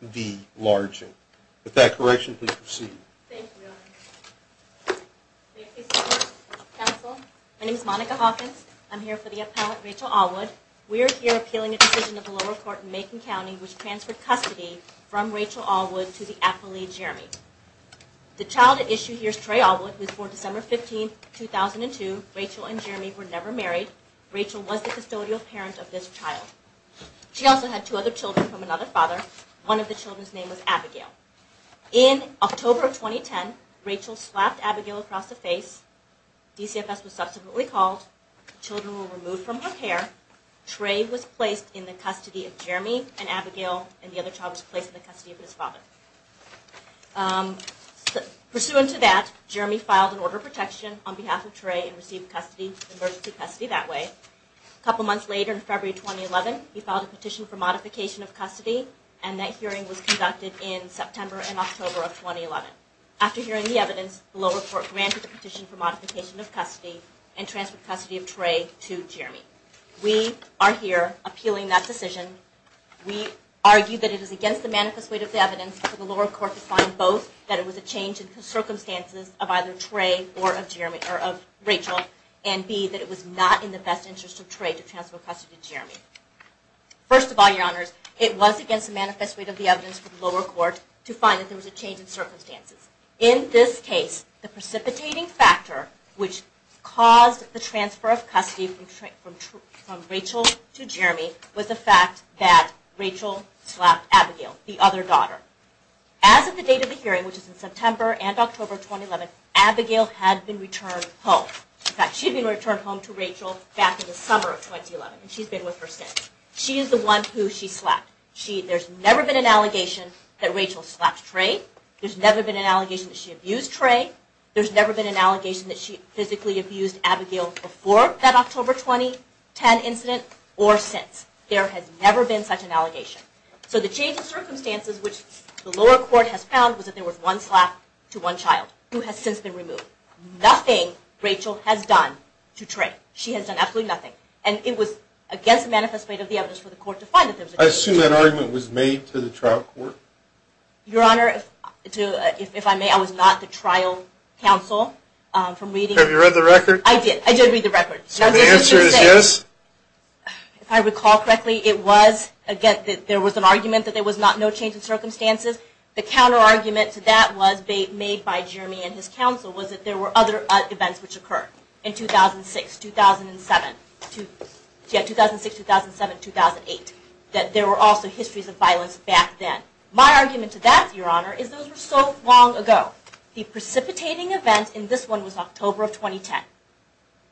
Appealing a decision of the lower court in Macon County v. Alwood v. Largent, I am here for the appellant Rachel Alwood. We are here appealing a decision of the lower court in Macon County which transferred custody from Rachel Alwood to the appellee Jeremy. The child at issue here is Trey Alwood who was born December 15, 2002. Rachel and Jeremy were never married. Rachel was the custodial parent of this child. She also had two other children from another father. One of the children's name was Abigail. In October of 2010, Rachel slapped Abigail across the face. DCFS was subsequently called. The children were removed from her care. Trey was placed in the custody of Jeremy and Abigail and the other child was placed in the custody of his father. Pursuant to that, Jeremy filed an order of protection on behalf of Trey and received custody, emergency custody that way. A couple months later in February 2011, he filed a petition for modification of custody and that hearing was conducted in September and October of 2011. After hearing the evidence, the lower court granted the petition for modification of custody and transferred custody of Trey to Jeremy. We are here appealing that decision. We argue that it is against the manifest weight of the evidence for the lower court to find both that it was a change in the circumstances of either Trey or of Rachel and B, that it was not in the best interest of Trey to transfer custody to Jeremy. First of all, your honors, it was against the manifest weight of the evidence for the lower court to find that there was a change in circumstances. In this case, the precipitating factor which caused the transfer of custody from Rachel to Jeremy was the fact that Rachel slapped Abigail, the other daughter. As of the date of the hearing, which is in September and October 2011, Abigail had been returned home. In fact, she had been returned home to Rachel back in the summer of 2011 and she has been with her since. She is the one who she slapped. There has never been an allegation that Rachel slapped Trey. There has never been an allegation that she abused Trey. There has never been an allegation that she physically abused Abigail before that October 2010 incident or since. There has never been such an allegation. So the change in circumstances which the lower court has found was that there was one slap to one child who has since been removed. Nothing Rachel has done to Trey. She has done absolutely nothing. And it was against the manifest weight of the evidence for the court to find that there was a change in circumstances. I assume that argument was made to the trial court? Your honor, if I may, I was not the trial counsel from reading. Have you read the record? I did. I did read the record. So the answer is yes? If I recall correctly, it was, again, there was an argument that there was no change in circumstances. The counter argument to that was made by Jeremy and his counsel was that there were other events which occurred in 2006, 2007, 2008. That there were also histories of violence back then. My argument to that, your honor, is those were so long ago. The precipitating event in this one was October of 2010.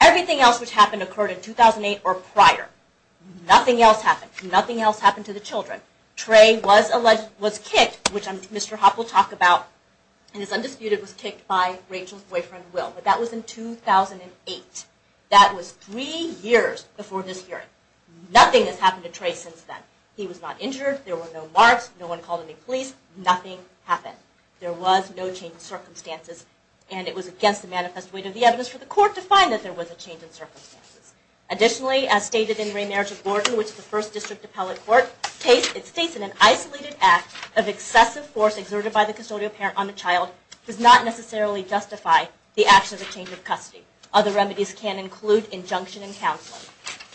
Everything else which happened occurred in 2008 or prior. Nothing else happened. Nothing else happened to the children. Trey was kicked, which Mr. Hoppe will talk about and is undisputed was kicked by Rachel's boyfriend, Will. But that was in 2008. That was three years before this hearing. Nothing has happened to Trey since then. He was not injured. There were no marks. No one called any police. Nothing happened. There was no change in circumstances. And it was against the manifest weight of the evidence for the court to find that there was a change in circumstances. Additionally, as stated in Remarriage of Gordon, which the first district appellate court, it states in an isolated act of excessive force exerted by the custodial parent on a child does not necessarily justify the action of a change of custody. Other remedies can include injunction and counseling.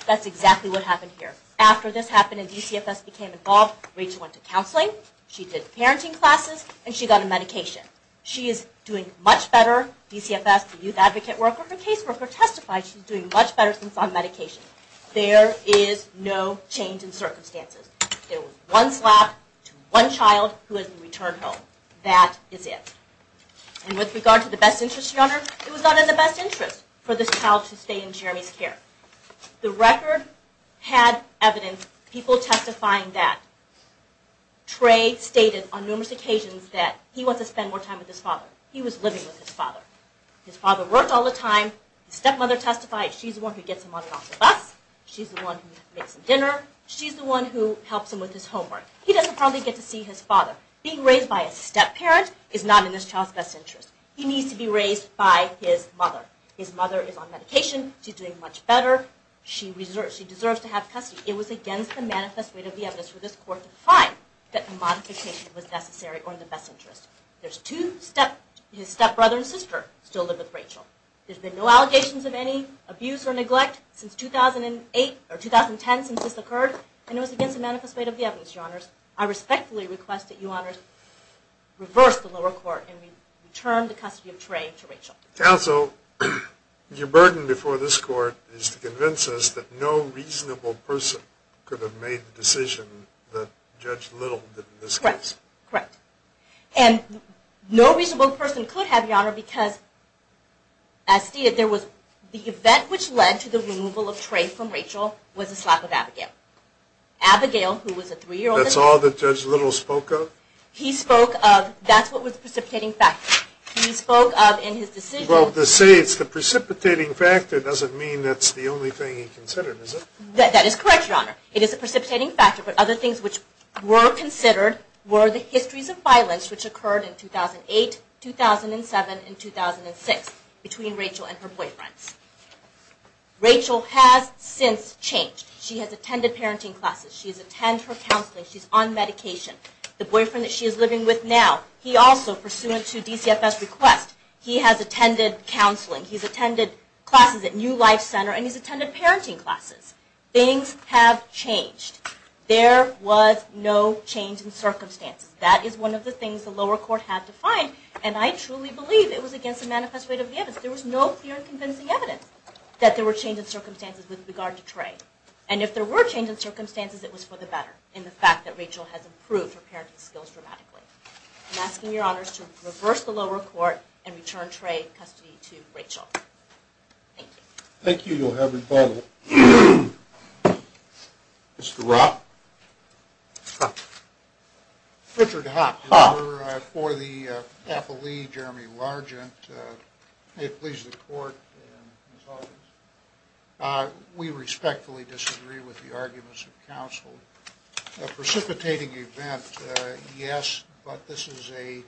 That's exactly what happened here. After this happened and DCFS became involved, Rachel went to counseling, she did parenting classes, and she got a medication. She is doing much better. DCFS, the youth advocate worker, her caseworker testified she's doing much better since on medication. There is no change in circumstances. There was one slap to one child who has been returned home. That is it. And with regard to the best interest, Your Honor, it was not in the best interest for this child to stay in Jeremy's care. The record had evidence, people testifying that. Trey stated on numerous occasions that he wants to spend more time with his father. He was living with his father. His father worked all the time. His stepmother testified she's the one who gets him on and off the bus. She's the one who makes him dinner. She's the one who helps him with his homework. He doesn't probably get to see his father. Being raised by a step-parent is not in this child's best interest. He needs to be raised by his mother. His mother is on medication. She's doing much better. She deserves to have custody. It was against the manifest way of the evidence for this court to find that the modification was necessary or in the best interest. There's two step- his step-brother and sister still live with Rachel. There's been no allegations of any abuse or neglect since 2008 or 2010 since this occurred. And it was against the manifest way of the evidence, Your Honors. I respectfully request that Your Honors reverse the lower court and return the custody of Trey to Rachel. Counsel, your burden before this court is to convince us that no reasonable person could have made the decision that Judge Little did in this case. Correct. Correct. And no reasonable person could have, Your Honor, because as stated, there was the event which led to the removal of Trey from Rachel was a slap of Abigail. Abigail, who was a three-year-old- That's all that Judge Little spoke of? He spoke of- that's what was the precipitating factor. He spoke of in his decision- Well, to say it's the precipitating factor doesn't mean that's the only thing he considered, is it? That is correct, Your Honor. It is the precipitating factor, but other things which were considered were the histories of events which occurred in 2008, 2007, and 2006 between Rachel and her boyfriends. Rachel has since changed. She has attended parenting classes. She's attended her counseling. She's on medication. The boyfriend that she is living with now, he also, pursuant to DCFS request, he has attended counseling. He's attended classes at New Life Center, and he's attended parenting classes. Things have changed. There was no change in circumstances. That is one of the things the lower court had to find, and I truly believe it was against the manifest rate of evidence. There was no clear and convincing evidence that there were changes in circumstances with regard to Trey, and if there were changes in circumstances, it was for the better in the fact that Rachel has improved her parenting skills dramatically. I'm asking Your Honors to reverse the lower court and return Trey in custody to Rachel. Thank you. Thank you, Your Honors. We respectfully disagree with the arguments of counsel. A precipitating event, yes, but this is a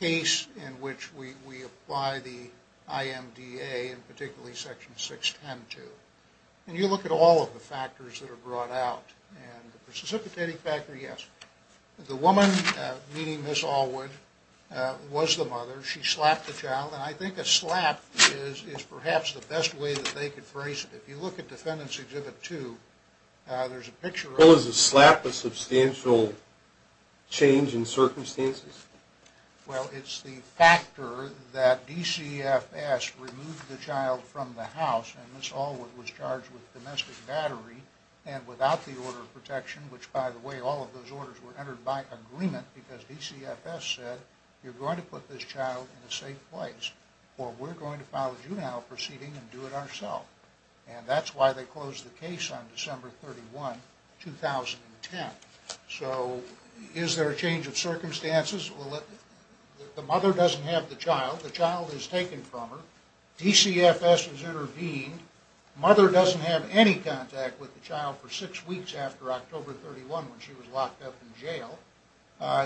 case in which we apply the IMDA, and particularly Section 610, too, and you look at all of the factors that are brought out, and the precipitating factor, yes, the woman, meaning Ms. Allwood, was the mother. She slapped the child, and I think a slap is perhaps the best way that they could phrase it. If you look at Defendant's Exhibit 2, there's a picture of... Well, is a slap a substantial change in circumstances? Well, it's the factor that DCFS removed the child from the house, and Ms. Allwood was charged with domestic battery, and without the order of protection, which, by the way, all of those orders were entered by agreement, because DCFS said, you're going to put this child in a safe place, or we're going to file a juvenile proceeding and do it ourselves. And that's why they closed the case on December 31, 2010. So is there a change of circumstances? Well, the mother doesn't have the child. The child is taken from her. DCFS has intervened. Mother doesn't have any contact with the child for six weeks after October 31, when she was locked up in jail.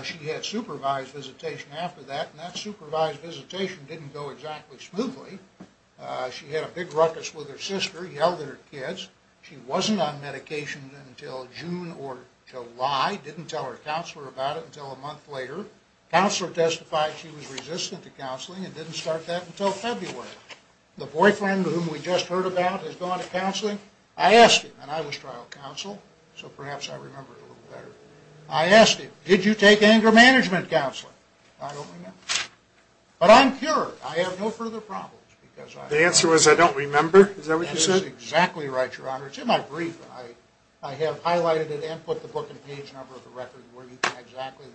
She had supervised visitation after that, and that supervised visitation didn't go exactly smoothly. She had a big ruckus with her sister, yelled at her kids. She wasn't on medication until June or July, didn't tell her counselor about it until a month later. Counselor testified she was resistant to counseling and didn't start that until February. The boyfriend whom we just heard about has gone to counseling. I asked him, and I was trial counsel, so perhaps I remember it a little better. I asked him, did you take anger management counseling? I don't remember. But I'm cured. I have no further problems, because I don't remember. The answer was, I don't remember? Is that what you said? That is exactly right, Your Honor. It's in my brief. I have highlighted it and put the page number of the record where you can exactly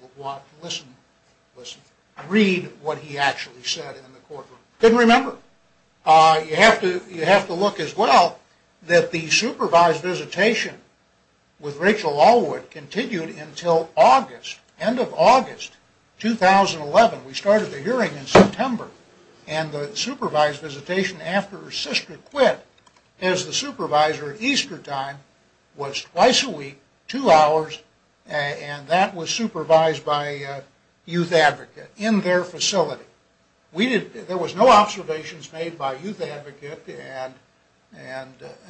read what he actually said in the courtroom. Couldn't remember. You have to look as well that the supervised visitation with Rachel Allwood continued until August, end of August, 2011. We started the hearing in September, and the supervised visitation after her sister quit as the supervisor at Easter time was twice a week, two hours, and that was supervised by a youth advocate in their facility. There was no observations made by a youth advocate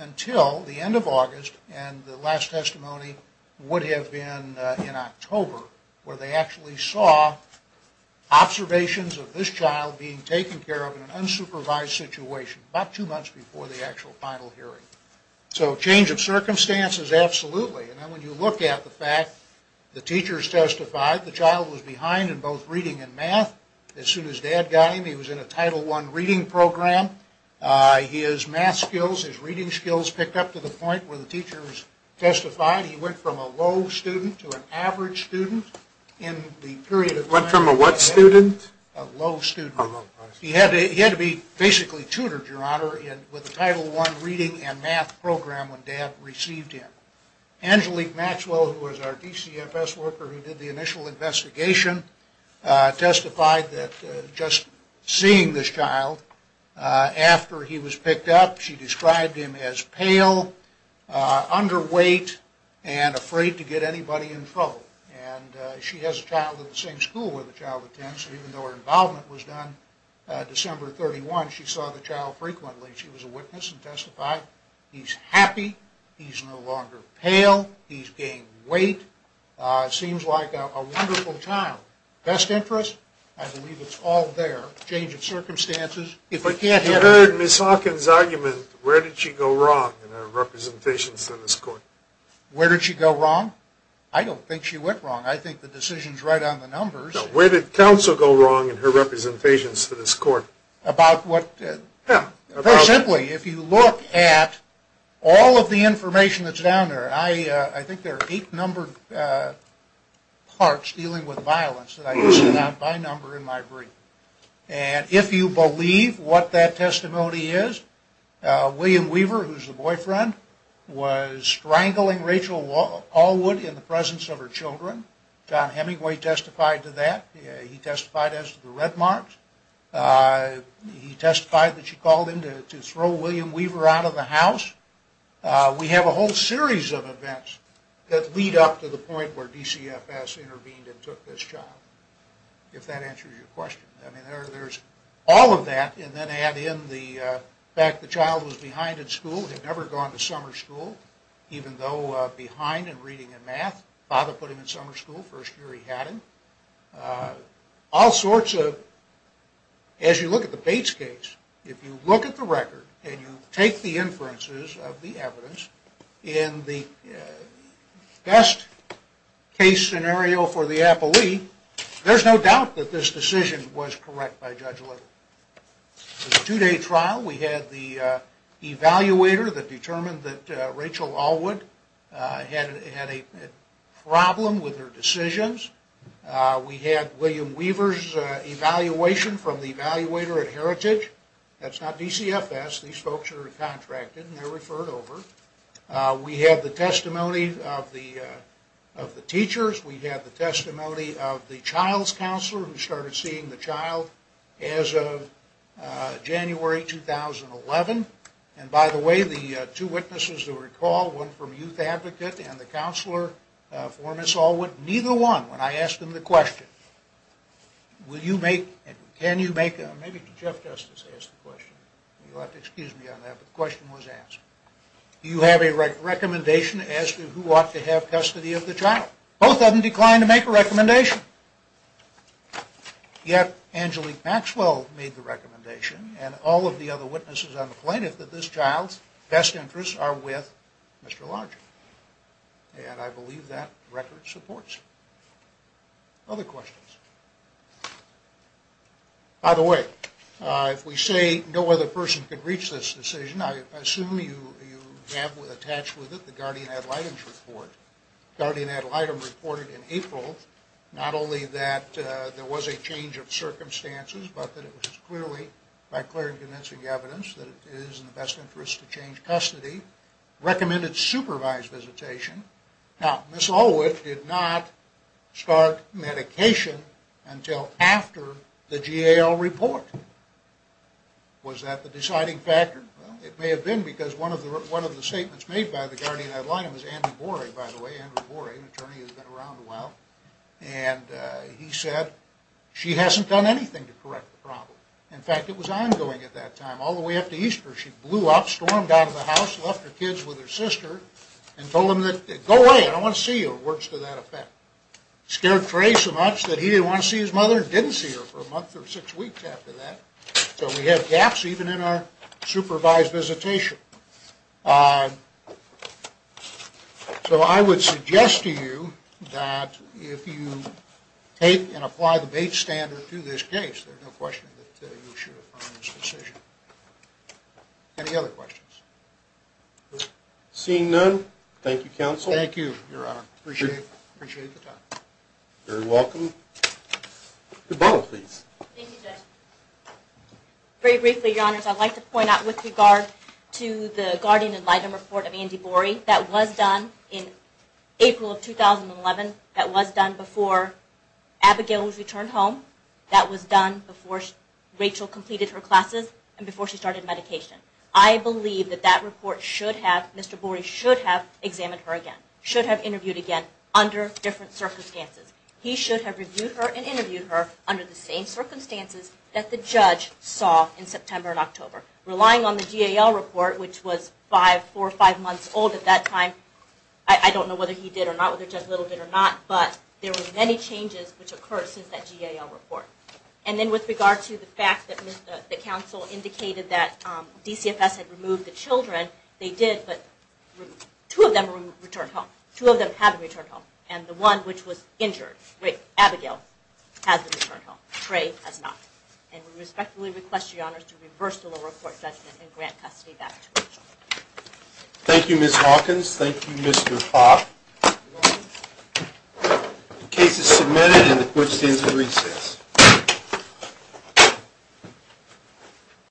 until the end of August, and the last testimony would have been in October, where they actually saw observations of this child being taken care of in an unsupervised situation, about two months before the actual final hearing. So, change of circumstances, absolutely. And when you look at the fact the teachers testified, the child was behind in both reading and math. As soon as dad got him, he was in a Title I reading program. His math skills, his reading skills picked up to the point where the teachers testified. He went from a low student to an average student in the period of time... Went from a what student? A low student. A low student. He had to be basically tutored, your honor, with a Title I reading and math program when dad received him. Angelique Maxwell, who was our DCFS worker who did the initial investigation, testified that just seeing this child after he was picked up, she described him as pale, underweight, and afraid to get anybody in trouble. And she has a child in the same school where the child attends, and even though her involvement was done December 31, she saw the child frequently. She was a witness and testified. He's happy. He's no longer pale. He's gained weight. Seems like a wonderful child. Best interest? I believe it's all there. Change of circumstances. You heard Ms. Hawkins' argument, where did she go wrong in her representations to this court? Where did she go wrong? I don't think she went wrong. I think the decision's right on the numbers. Where did counsel go wrong in her representations to this court? About what? Him. Very simply, if you look at all of the information that's down there, I think there are eight numbered parts dealing with violence that I listed out by number in my brief. And if you believe what that testimony is, William Weaver, who's the boyfriend, was strangling Rachel Allwood in the presence of her children. John Hemingway testified to that. He testified as to the red marks. He testified that she called him to throw William Weaver out of the house. We have a whole series of events that lead up to the point where DCFS intervened and took this child, if that answers your question. I mean, there's all of that, and then add in the fact the child was behind in school, had never gone to summer school, even though behind in reading and math, father put him in summer school, first year he hadn't. All sorts of, as you look at the Bates case, if you look at the record and you take the inferences of the evidence, in the best case scenario for the appellee, there's no doubt that this decision was correct by Judge Little. It was a two-day trial. We had the evaluator that determined that Rachel Allwood had a problem with her decisions. We had William Weaver's evaluation from the evaluator at Heritage. That's not DCFS. These folks are contracted and they're referred over. We have the testimony of the teachers. We have the testimony of the child's counselor, who started seeing the child as of January 2011. And by the way, the two witnesses who recall, one from Youth Advocate and the counselor for Ms. Allwood, neither one, when I asked them the question, will you make, can you excuse me on that, but the question was asked. Do you have a recommendation as to who ought to have custody of the child? Both of them declined to make a recommendation. Yet, Angelique Maxwell made the recommendation and all of the other witnesses on the plaintiff that this child's best interests are with Mr. Larger. And I believe that record supports it. Other questions? By the way, if we say no other person could reach this decision, I assume you have attached with it the Guardian-Ad Litem's report. Guardian-Ad Litem reported in April, not only that there was a change of circumstances, but that it was clearly, by clear and convincing evidence, that it is in the best interest to change custody. Recommended supervised visitation. Now, Ms. Allwood did not start medication until after the GAL report. Was that the deciding factor? Well, it may have been because one of the statements made by the Guardian-Ad Litem was Andrew Borey, by the way, Andrew Borey, an attorney who's been around a while, and he said she hasn't done anything to correct the problem. In fact, it was ongoing at that time. All the way up to Easter, she blew up, stormed out of the house, left her kids with her sister and told them, go away, I don't want to see you, words to that effect. Scared Trey so much that he didn't want to see his mother and didn't see her for a month or six weeks after that. So we have gaps even in our supervised visitation. So I would suggest to you that if you take and apply the Bates standard to this case, there's no question that you should affirm this decision. Any other questions? Seeing none, thank you, Counsel. Thank you, Your Honor. Appreciate the time. You're welcome. Goodball, please. Thank you, Judge. Very briefly, Your Honors, I'd like to point out with regard to the Guardian-Ad Litem report of Andy Borey, that was done in April of 2011. That was done before Abigail was returned home. That was done before Rachel completed her classes and before she started medication. I believe that that report should have, Mr. Borey should have examined her again, should have interviewed again under different circumstances. He should have reviewed her and interviewed her under the same circumstances that the judge saw in September and October. Relying on the GAL report, which was five, four, five months old at that time, I don't know whether he did or not, whether Judge Little did or not, but there were many changes which occurred since that GAL report. And then with regard to the fact that the counsel indicated that DCFS had removed the children, they did, but two of them returned home. Two of them haven't returned home. And the one which was injured, Abigail, hasn't returned home. And we respectfully request, Your Honors, to reverse the lower court judgment and grant custody back to Rachel. Thank you, Ms. Hawkins. Thank you, Mr. Hoff. The case is submitted and the court stands at recess.